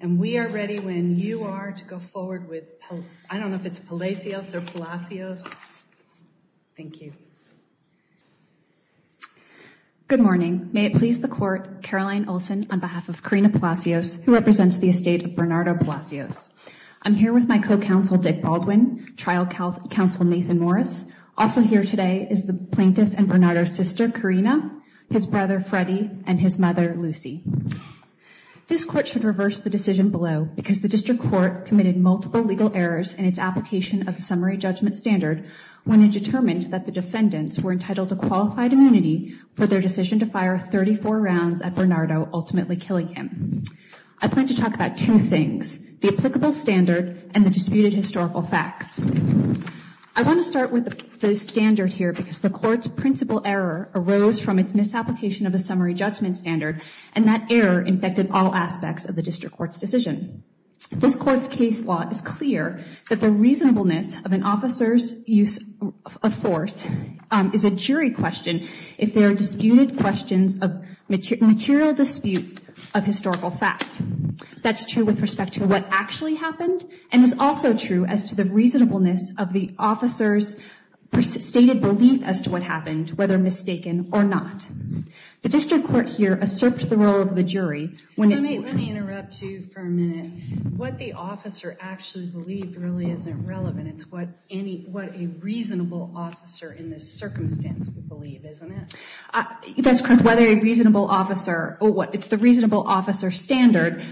and we are ready when you are to go forward with I don't know if it's Palacios or Palacios. Thank you. Good morning may it please the court Caroline Olson on behalf of Karina Palacios who represents the estate of Bernardo Palacios. I'm here with my co-counsel Dick Baldwin, trial counsel Nathan Morris. Also here today is the plaintiff and Bernardo's sister Karina, his brother below because the district court committed multiple legal errors in its application of the summary judgment standard when it determined that the defendants were entitled to qualified immunity for their decision to fire 34 rounds at Bernardo ultimately killing him. I plan to talk about two things the applicable standard and the disputed historical facts. I want to start with the standard here because the court's principal error arose from its misapplication of the summary judgment standard and that error infected all aspects of the district court's decision. This court's case law is clear that the reasonableness of an officer's use of force is a jury question if there are disputed questions of material disputes of historical fact. That's true with respect to what actually happened and is also true as to the reasonableness of the officer's stated belief as to what happened whether mistaken or not. The Let me interrupt you for a minute. What the officer actually believed really isn't relevant it's what any what a reasonable officer in this circumstance would believe isn't it? That's correct whether a reasonable officer or what it's the reasonable officer standard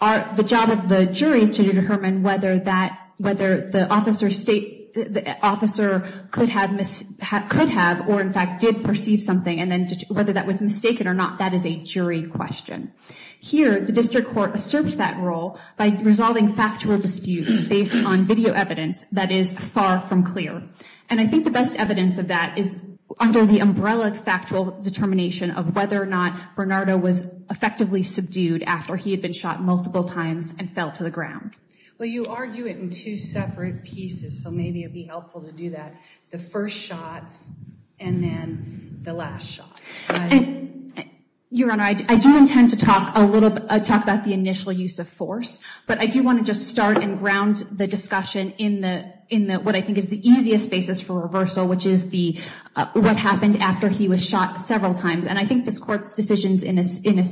are the job of the jury to determine whether that whether the officer state the officer could have missed have could have or in fact did perceive something and then whether that was mistaken or not that is a jury question. Here the district court asserts that role by resolving factual disputes based on video evidence that is far from clear and I think the best evidence of that is under the umbrella factual determination of whether or not Bernardo was effectively subdued after he had been shot multiple times and fell to the ground. Well you argue it in two separate pieces so maybe it'd be helpful to do that the first shot and then the last shot. Your Honor I do intend to talk a little talk about the initial use of force but I do want to just start and ground the discussion in the in what I think is the easiest basis for reversal which is the what happened after he was shot several times and I think this court's decisions in this in a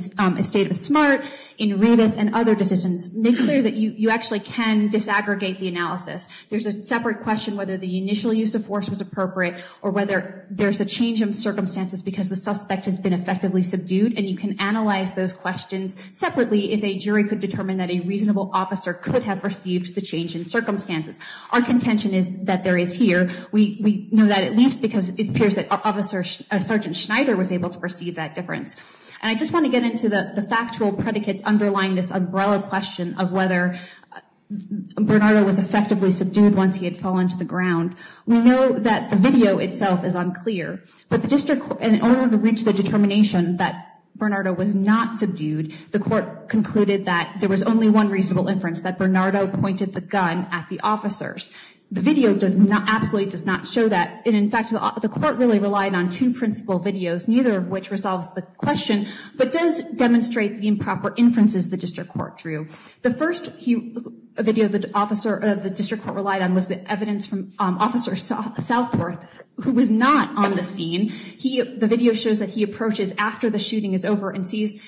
state of smart in Revis and other decisions make clear that you you actually can disaggregate the analysis there's a separate question whether the initial use of force was appropriate or whether there's a change in circumstances because the suspect has been effectively subdued and you can analyze those questions separately if a jury could determine that a reasonable officer could have received the change in circumstances. Our contention is that there is here we know that at least because it appears that officer Sergeant Schneider was able to perceive that difference and I just want to get into the factual predicates underlying this umbrella question of whether Bernardo was effectively subdued once he fell into the ground we know that the video itself is unclear but the district and in order to reach the determination that Bernardo was not subdued the court concluded that there was only one reasonable inference that Bernardo pointed the gun at the officers. The video does not absolutely does not show that and in fact the court really relied on two principal videos neither of which resolves the question but does demonstrate the improper inferences the district court drew. The first video the officer of the district court relied on was the evidence from officer Southworth who was not on the scene he the video shows that he approaches after the shooting is over and sees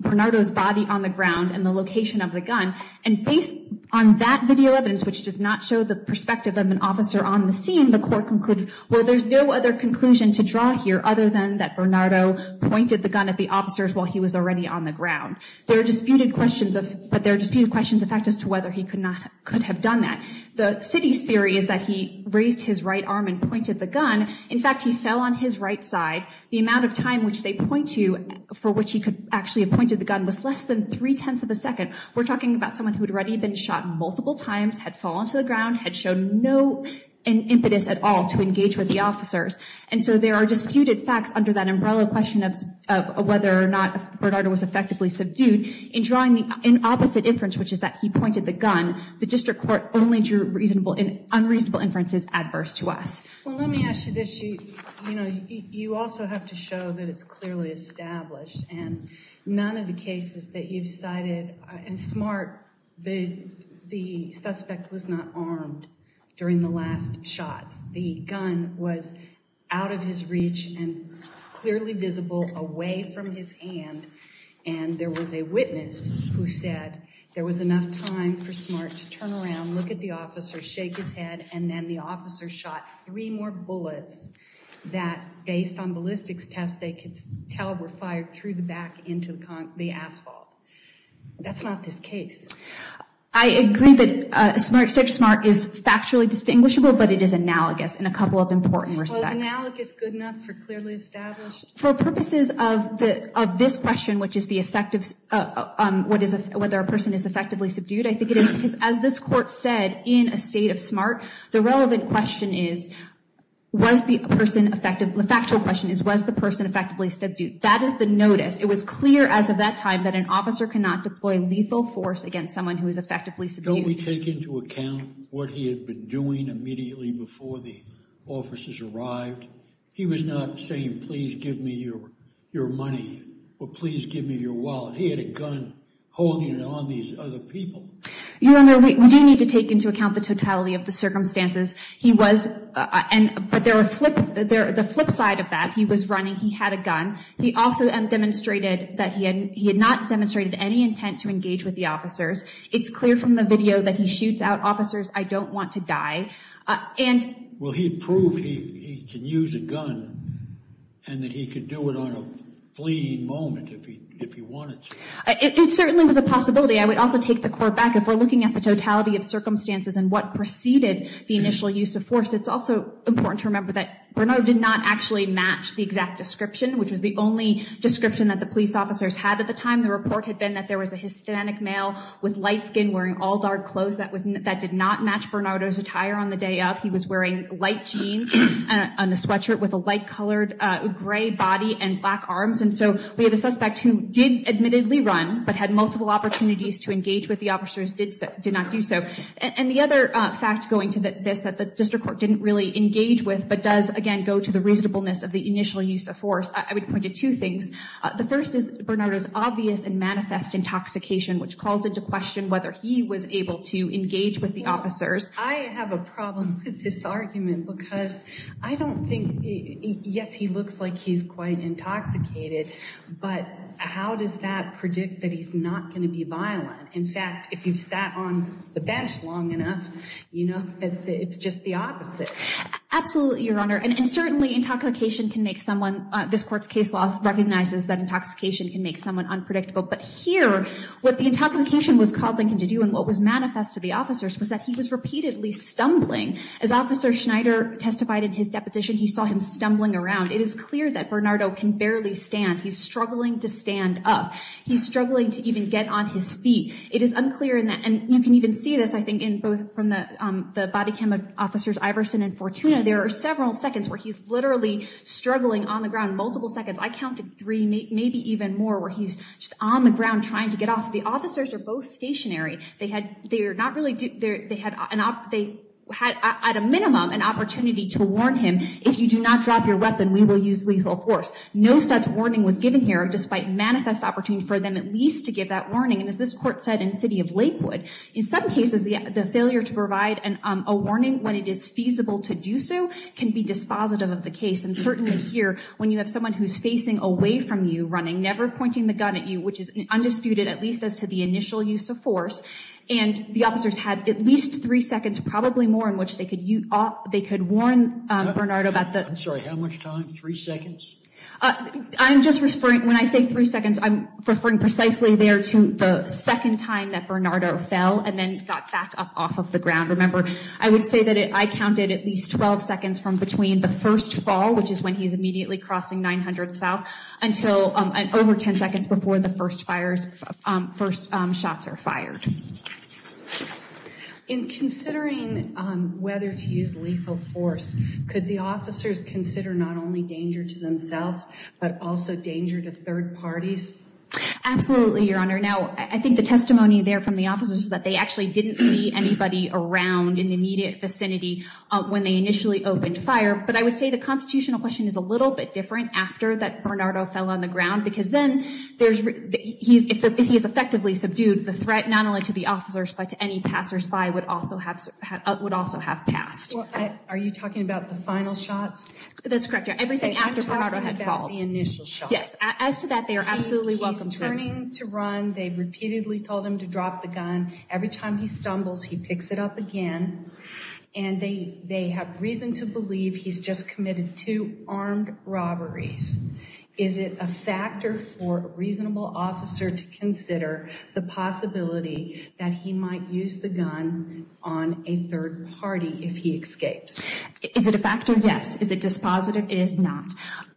Bernardo's body on the ground and the location of the gun and based on that video evidence which does not show the perspective of an officer on the scene the court concluded well there's no other conclusion to draw here other than that Bernardo pointed the gun at the officers while he was already on the ground. There are disputed questions of but there are disputed questions in fact as to whether he could not could have done that. The city's theory is that he raised his right arm and pointed the gun in fact he fell on his right side the amount of time which they point to for which he could actually appointed the gun was less than three-tenths of a second we're talking about someone who had already been shot multiple times had fallen to the ground had shown no an impetus at all to engage with the officers and so there are disputed facts under that umbrella question of whether or not Bernardo was effectively subdued in opposite inference which is that he pointed the gun the district court only drew reasonable and unreasonable inferences adverse to us. Well let me ask you this, you know you also have to show that it's clearly established and none of the cases that you've cited and smart the the suspect was not armed during the last shots the gun was out of his reach and clearly visible away from his hand and there was a witness who said there was enough time for smart to turn around look at the officer shake his head and then the officer shot three more bullets that based on ballistics test they could tell were fired through the back into the asphalt. That's not this case. I agree that a smart search smart is factually distinguishable but it is analogous in a purposes of the of this question which is the effect of what is a whether a person is effectively subdued I think it is because as this court said in a state of smart the relevant question is was the person effective the factual question is was the person effectively subdued that is the notice it was clear as of that time that an officer cannot deploy lethal force against someone who is effectively subdued. Don't we take into account what he had been doing immediately before the officers arrived he was not saying please give me your your money or please give me your wallet he had a gun holding it on these other people. You remember we do need to take into account the totality of the circumstances he was and but there were flip there the flip side of that he was running he had a gun he also demonstrated that he had he had not demonstrated any intent to engage with the officers it's clear from the video that he shoots out officers I don't want to die and well he proved he can use a flea moment if you want it it certainly was a possibility I would also take the court back if we're looking at the totality of circumstances and what preceded the initial use of force it's also important to remember that Bernard did not actually match the exact description which was the only description that the police officers had at the time the report had been that there was a Hispanic male with light skin wearing all dark clothes that was that did not match Bernardo's attire on the day of he was wearing light jeans on a sweatshirt with a light colored gray body and black arms and so we have a suspect who did admittedly run but had multiple opportunities to engage with the officers did so did not do so and the other fact going to that this that the district court didn't really engage with but does again go to the reasonableness of the initial use of force I would point to two things the first is Bernard is obvious and manifest intoxication which calls into question whether he was able to engage with the officers I have a problem with this yes he looks like he's quite intoxicated but how does that predict that he's not going to be violent in fact if you've sat on the bench long enough you know it's just the opposite absolutely your honor and certainly intoxication can make someone this court's case loss recognizes that intoxication can make someone unpredictable but here what the intoxication was causing him to do and what was manifest to the officers was that he was repeatedly stumbling as officer Schneider testified in his deposition he saw him stumbling around it is clear that Bernardo can barely stand he's struggling to stand up he's struggling to even get on his feet it is unclear in that and you can even see this I think in both from the the body cam of officers Iverson and Fortuna there are several seconds where he's literally struggling on the ground multiple seconds I counted three maybe even more where he's just on the ground trying to get off the officers are both stationary they had they're not really do they had an op they had at a minimum an opportunity to warn him if you do not drop your weapon we will use lethal force no such warning was given here despite manifest opportunity for them at least to give that warning and as this court said in city of Lakewood in some cases the failure to provide and a warning when it is feasible to do so can be dispositive of the case and certainly here when you have someone who's facing away from you running never pointing the gun at you which is undisputed at least as to the initial use of force and the officers had at least three seconds probably more in which they could you off they could warn Bernardo about that I'm sorry how much time three seconds I'm just referring when I say three seconds I'm referring precisely there to the second time that Bernardo fell and then got back up off of the ground remember I would say that it I counted at least 12 seconds from between the first fall which is when he's immediately crossing 900 south until an over 10 seconds before the first fires first shots are fired in considering whether to use lethal force could the officers consider not only danger to themselves but also danger to third parties absolutely your honor now I think the testimony there from the officers that they actually didn't see anybody around in the immediate vicinity when they initially opened fire but I would say the constitutional question is a little bit different after that Bernardo fell on the ground because then there's he's effectively subdued the threat not only to the officers but to any passers-by would also have would also have passed are you talking about the final shots that's correct everything after the initial shot yes as to that they are absolutely welcome turning to run they've repeatedly told him to drop the gun every time he stumbles he picks it up again and they they have reason to believe he's just committed two armed robberies is it a factor for a reasonable officer to consider the possibility that he might use the gun on a third party if he escapes is it a factor yes is it dispositive is not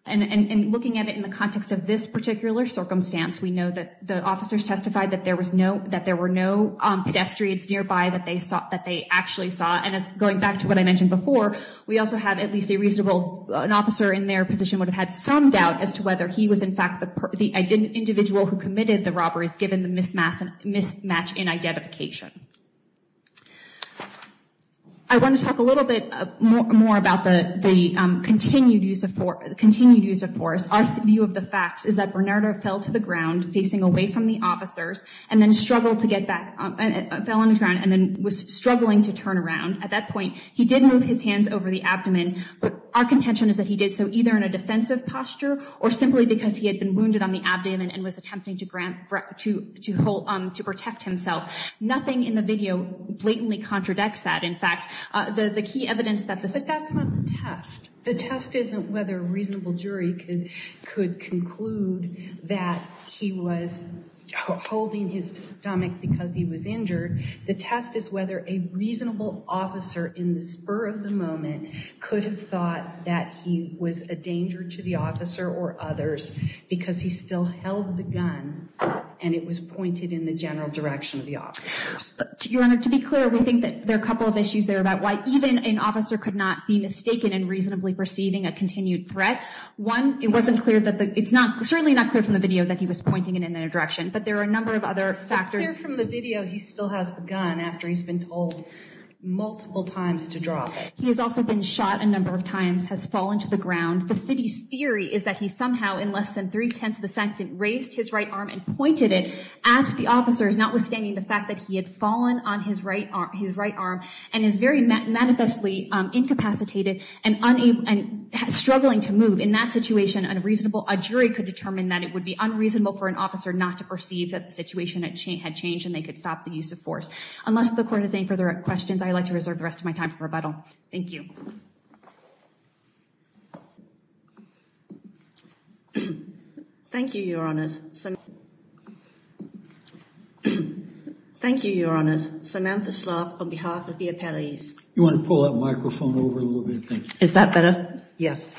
and looking at it in the context of this particular circumstance we know that the officers testified that there was no that there were no pedestrians nearby that they saw that they actually saw and as going back to what I mentioned before we also had at least a reasonable an officer in their position would have had some doubt as to whether he was in fact the individual who committed the robberies given the mismatch and mismatch in identification I want to talk a little bit more about the the continued use of for the continued use of force our view of the facts is that Bernardo fell to the ground facing away from the officers and then struggled to get back fell on the ground and then was struggling to turn around at that point he didn't move his hands over the abdomen but our contention is that he did so either in a defensive posture or simply because he had been wounded on the abdomen and was attempting to grant to to hold on to protect himself nothing in the video blatantly contradicts that in fact the the key evidence that the test the test isn't whether a reasonable jury could could conclude that he was holding his stomach because he was injured the test is whether a reasonable officer in the spur of the moment could have thought that he was a danger to the officer or others because he still held the gun and it was pointed in the general direction of the officers to your honor to be clear we think that there are a couple of issues there about why even an officer could not be mistaken and reasonably perceiving a continued threat one it wasn't clear that it's not certainly not clear from the video that he was pointing it in their direction but there are a number of other factors from the video he still has the gun after he's been told multiple times to drop he has also been shot a number of times has fallen to the ground the city's theory is that he somehow in less than three-tenths of a second raised his right arm and pointed it at the officers notwithstanding the fact that he had fallen on his right arm his right arm and is very manifestly incapacitated and unable and struggling to move in that situation and a reasonable a jury could determine that it would be unreasonable for an officer not to perceive that the situation at chain had changed and they could stop the use of force unless the court is any further questions I like to reserve the rest of my time for rebuttal thank you thank you your honors some thank you your honors Samantha slop on behalf of the appellees you want to pull that microphone over a little bit is that better yes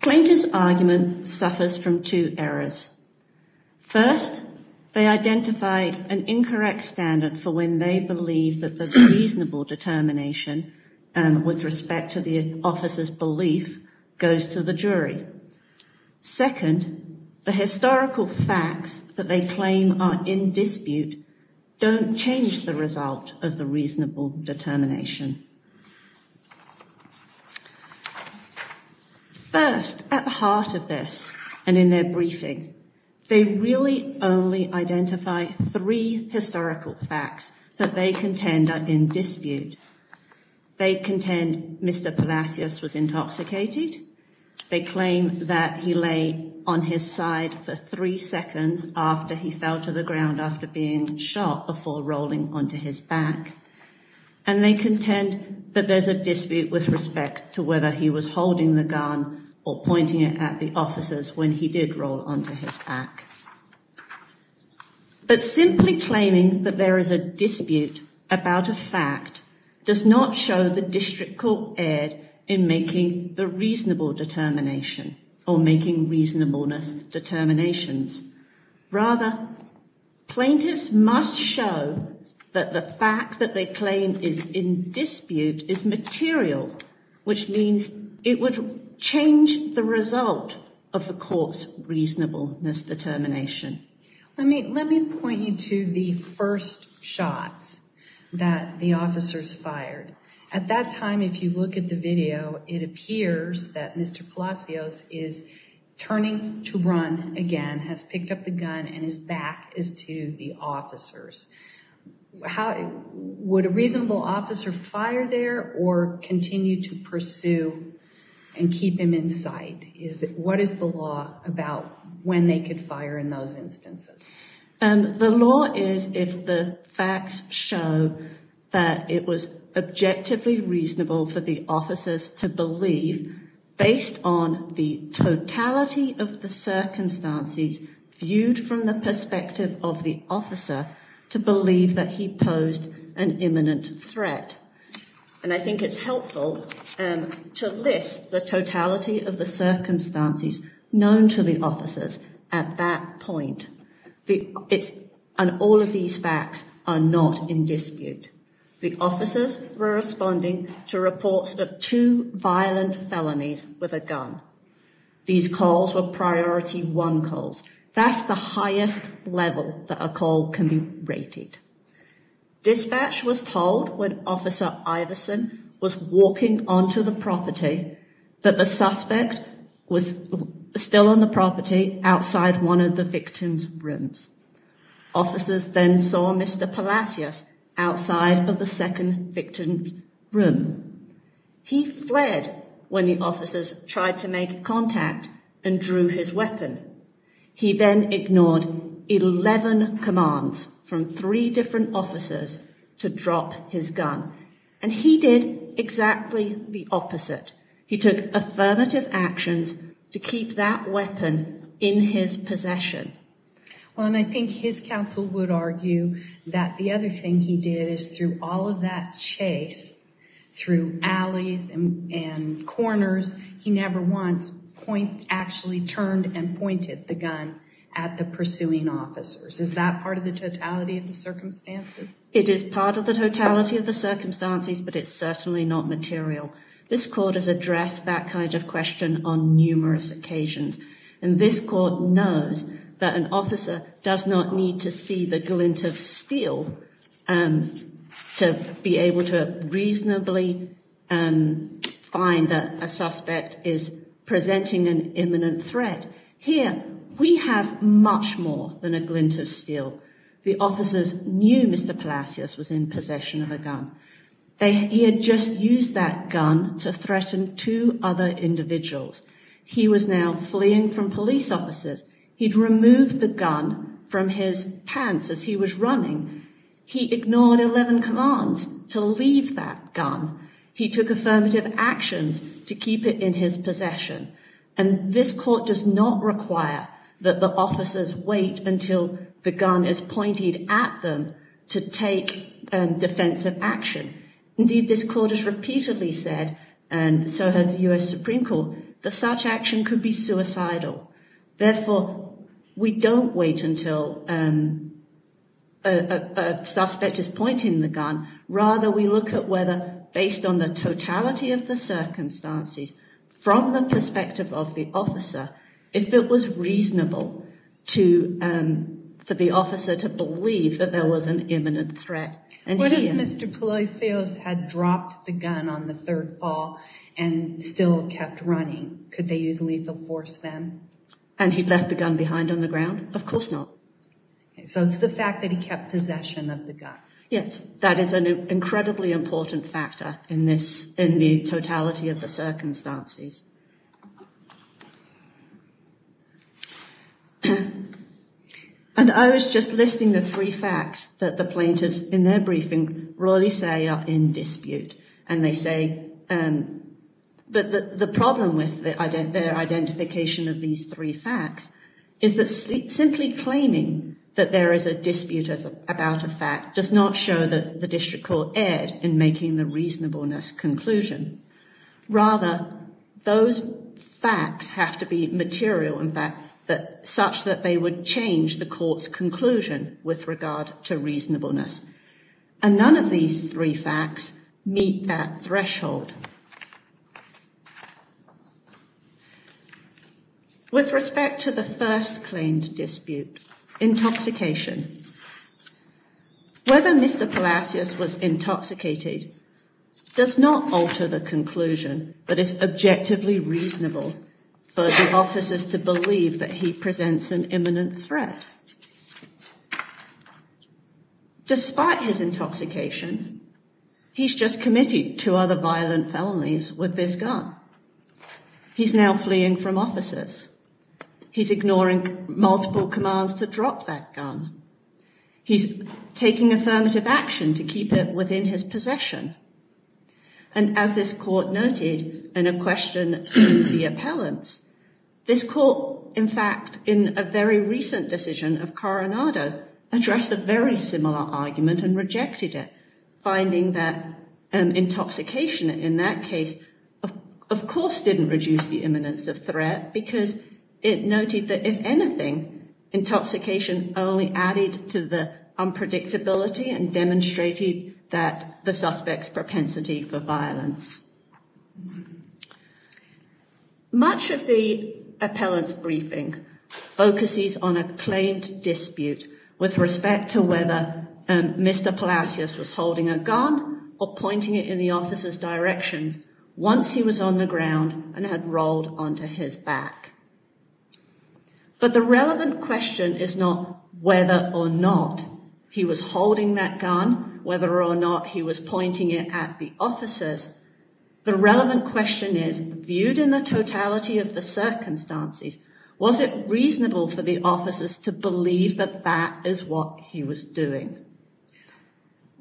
plaintiff's argument suffers from two errors first they identify an incorrect standard for when they believe that the reasonable determination and with respect to the officers belief goes to the jury second the historical facts that they claim are in dispute don't change the result of the reasonable determination first at the heart of this and in their briefing they really only identify three historical facts that they contend are in dispute they contend mr. Palacios was intoxicated they claim that he lay on his side for three seconds after he fell to the ground after being shot before rolling onto his back and they contend that there's a dispute with respect to whether he was holding the gun or pointing it at the officers when he did roll onto his back but simply claiming that there is a dispute about a fact does not show the district court ed in making the reasonable determination or making reasonableness determinations rather plaintiffs must show that the fact that they claim is in dispute is material which means it would change the result of the courts reasonableness determination I mean let me point you to the first shots that the officers fired at that time if you look at the video it appears that mr. Palacios is turning to run again has picked up the gun and his back is to the officers how would a reasonable officer fire there or continue to pursue and keep him in sight is that what is the law about when they could fire in those instances and the law is if the facts show that it was objectively reasonable for the officers to believe based on the totality of the circumstances viewed from the perspective of the officer to believe that he posed an imminent threat and I think it's helpful and to list the point it's and all of these facts are not in dispute the officers were responding to reports of two violent felonies with a gun these calls were priority one calls that's the highest level that a call can be rated dispatch was told when officer Iverson was walking onto the property but the one of the victims rooms officers then saw mr. Palacios outside of the second victim room he fled when the officers tried to make contact and drew his weapon he then ignored 11 commands from three different officers to drop his gun and he did exactly the opposite he took affirmative actions to keep that possession well and I think his counsel would argue that the other thing he did is through all of that chase through alleys and corners he never once point actually turned and pointed the gun at the pursuing officers is that part of the totality of the circumstances it is part of the totality of the circumstances but it's certainly not material this court has addressed that kind of question on numerous occasions and this court knows that an officer does not need to see the glint of steel and to be able to reasonably and find that a suspect is presenting an imminent threat here we have much more than a glint of steel the officers knew mr. Palacios was in possession of a gun they just used that gun to threaten two other individuals he was now fleeing from police officers he'd removed the gun from his pants as he was running he ignored 11 commands to leave that gun he took affirmative actions to keep it in his possession and this court does not require that the officers wait until the this court has repeatedly said and so has the US Supreme Court the such action could be suicidal therefore we don't wait until a suspect is pointing the gun rather we look at whether based on the totality of the circumstances from the perspective of the officer if it was reasonable to for the officer to believe that there was an imminent threat and Mr. Palacios had dropped the gun on the third fall and still kept running could they use a lethal force then and he left the gun behind on the ground of course not so it's the fact that he kept possession of the gun yes that is an incredibly important factor in this in and I was just listing the three facts that the plaintiffs in their briefing royally say are in dispute and they say but the problem with that I get their identification of these three facts is that sleep simply claiming that there is a dispute as about a fact does not show that the district court ed in making the facts have to be material in fact that such that they would change the court's conclusion with regard to reasonableness and none of these three facts meet that threshold with respect to the first claimed dispute intoxication whether Mr. Palacios was intoxicated does not alter the reasonable for the officers to believe that he presents an imminent threat despite his intoxication he's just committed to other violent felonies with this gun he's now fleeing from officers he's ignoring multiple commands to drop that gun he's taking affirmative action to keep it within his possession and as this court noted in a question to the appellants this court in fact in a very recent decision of Coronado addressed a very similar argument and rejected it finding that an intoxication in that case of course didn't reduce the imminence of threat because it noted that if anything intoxication only added to the unpredictability and demonstrated that the suspects propensity for much of the appellants briefing focuses on a claimed dispute with respect to whether and Mr. Palacios was holding a gun or pointing it in the officers directions once he was on the ground and had rolled onto his back but the relevant question is not whether or not he was holding that gun whether or not he was pointing it at the officers the relevant question is viewed in the totality of the circumstances was it reasonable for the officers to believe that that is what he was doing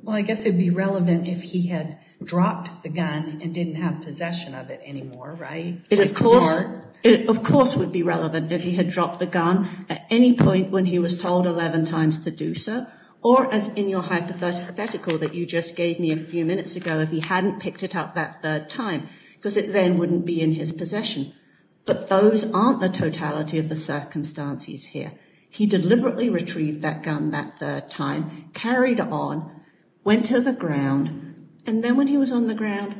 well I guess it'd be relevant if he had dropped the gun and didn't have possession of it anymore right it of course it of course would be relevant if he had dropped the gun at any point when he was told 11 times to do so or as in your hypothetical that you just gave me a few minutes ago if he hadn't picked it up that third time because it then wouldn't be in his possession but those aren't the totality of the circumstances here he deliberately retrieved that gun that third time carried on went to the ground and then when he was on the ground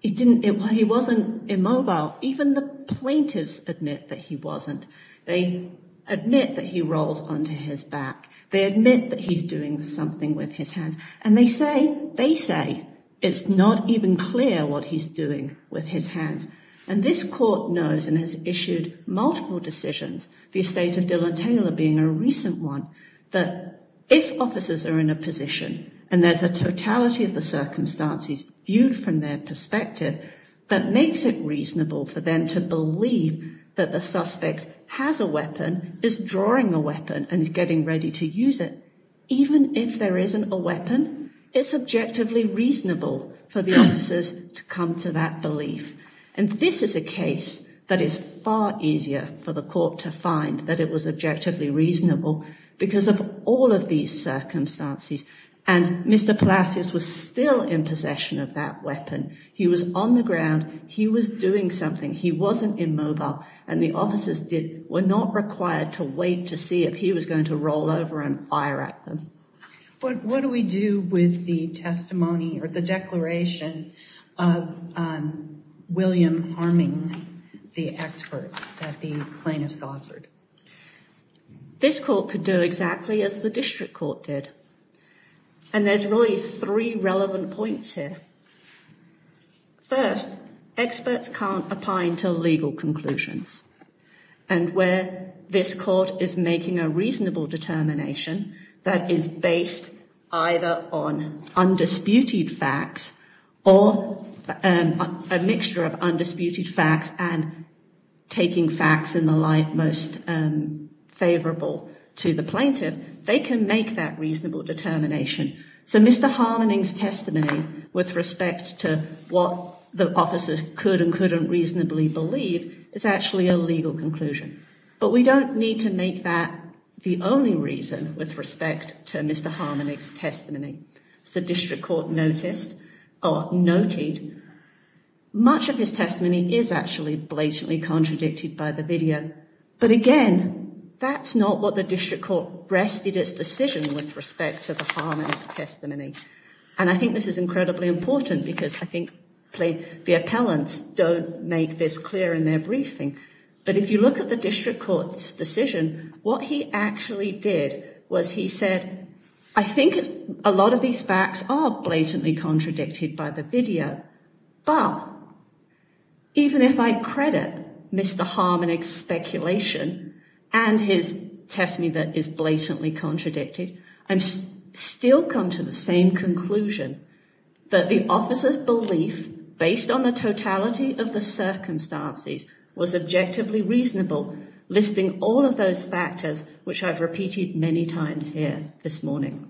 he didn't get why he wasn't immobile even the plaintiffs admit that he wasn't they admit that he rolls onto his back they admit that he's doing something with his hands and they say they say it's not even clear what he's doing with his hands and this court knows and has issued multiple decisions the estate of Dylan Taylor being a recent one that if officers are in a position and there's a totality of the circumstances viewed from their perspective that makes it reasonable for them to believe that the suspect has a weapon is drawing a weapon and he's getting ready to use it even if there isn't a weapon it's objectively reasonable for the officers to come to that belief and this is a case that is far easier for the court to find that it was objectively reasonable because of all of these circumstances and mr. Palacios was still in possession of that weapon he was on the ground he was doing something he wasn't immobile and the was going to roll over and fire at them but what do we do with the testimony or the declaration of William harming the expert that the plaintiffs offered this court could do exactly as the district court did and there's really three relevant points here first experts can't apply until legal conclusions and where this court is making a reasonable determination that is based on undisputed facts or a mixture of undisputed facts and taking facts in the light most favorable to the plaintiff they can make that reasonable determination so mr. harmonies testimony with respect to what the officers could and couldn't reasonably believe is actually a legal conclusion but we don't need to make that the only reason with respect to mr. harmonics testimony the district court noticed or noted much of his testimony is actually blatantly contradicted by the video but again that's not what the district court rested its decision with respect to the harmony testimony and I think this is make this clear in their briefing but if you look at the district court's decision what he actually did was he said I think a lot of these facts are blatantly contradicted by the video but even if I credit mr. Harmonic speculation and his testimony that is blatantly contradicted I'm still come to the same conclusion that the officers belief based on the totality of the circumstances was objectively reasonable listing all of those factors which I've repeated many times here this morning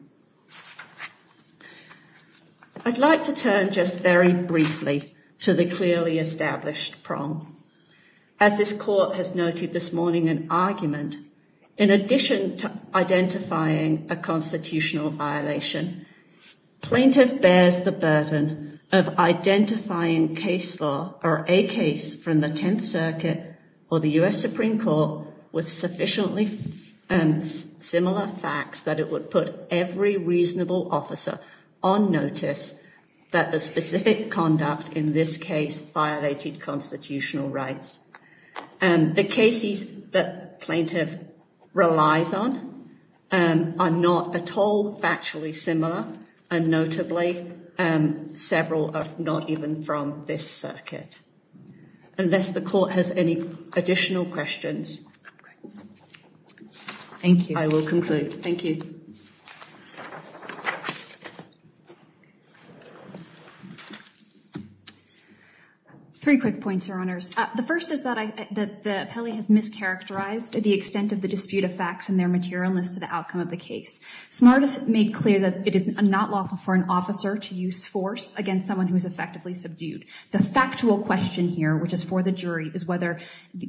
I'd like to turn just very briefly to the clearly established prong as this court has noted this morning an argument in addition to identifying a constitutional violation plaintiff bears the burden of identifying case law or a case from the Tenth Circuit or the US Supreme Court with sufficiently and similar facts that it would put every reasonable officer on notice that the specific conduct in this case violated constitutional rights and the cases that plaintiff relies on are not at all actually similar and notably several are not even from this circuit unless the court has any additional questions thank you I will conclude thank you three quick points your honors the first is that I that the Pele has mischaracterized to the extent of the dispute of facts and their materialist to the outcome of the case smartest made clear that it is not lawful for an officer to use force against someone who is effectively subdued the factual question here which is for the jury is whether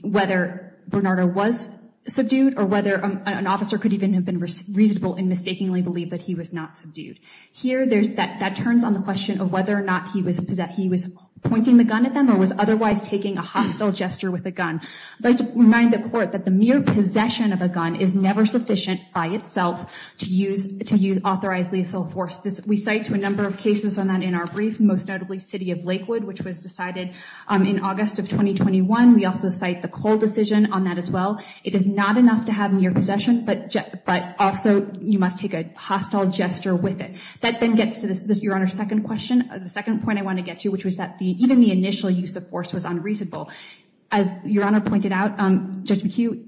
whether Bernardo was subdued or whether an officer could even have been reasonable and mistakenly believe that he was not subdued here there's that that turns on the question of whether or not he was because that he was pointing the gun at them or was otherwise taking a hostile gesture with a gun like to remind the court that the mere possession of a gun is never sufficient by itself to use to use authorized lethal force this we cite to a number of cases on that in our brief most notably city of Lakewood which was decided in August of 2021 we also cite the Cole decision on that as well it is not enough to have mere possession but but also you must take a hostile gesture with it that then gets to this your honor second question the second point I want to get to which was that the even the initial use of force was unreasonable as your honor pointed out judge McHugh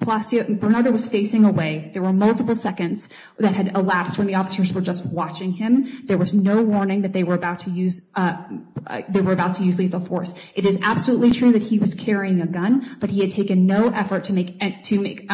Palacio Bernardo was facing away there were multiple seconds that had elapsed when the officers were just watching him there was no warning that they were about to use they were about to use lethal force it is absolutely true that he was carrying a gun but he had taken no effort to make it to make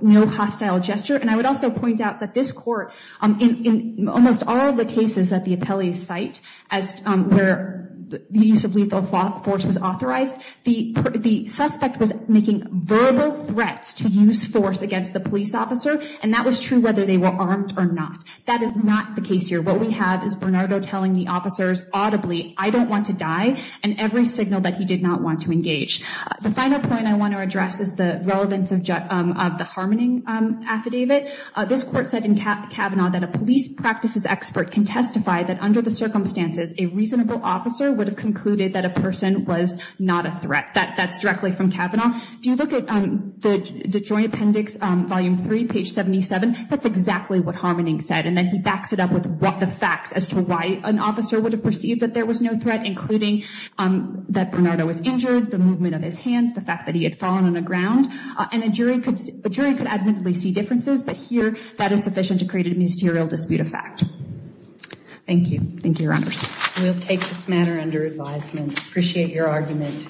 no hostile gesture and I would also point out that this court in almost all the cases at the appellee site as where the use of lethal force was authorized the the suspect was making verbal threats to use force against the police officer and that was true whether they were armed or not that is not the case here what we have is Bernardo telling the officers audibly I don't want to die and every signal that he did not want to engage the final point I want to address is the Harmaning affidavit this court said in Kavanaugh that a police practices expert can testify that under the circumstances a reasonable officer would have concluded that a person was not a threat that that's directly from Kavanaugh do you look at the the joint appendix volume 3 page 77 that's exactly what Harmaning said and then he backs it up with what the facts as to why an officer would have perceived that there was no threat including that Bernardo was injured the movement of his hands the fact that he had fallen on the ground and a jury could jury could admittedly see differences but here that is sufficient to create a ministerial dispute of fact thank you thank you runners we'll take this matter under advisement appreciate your argument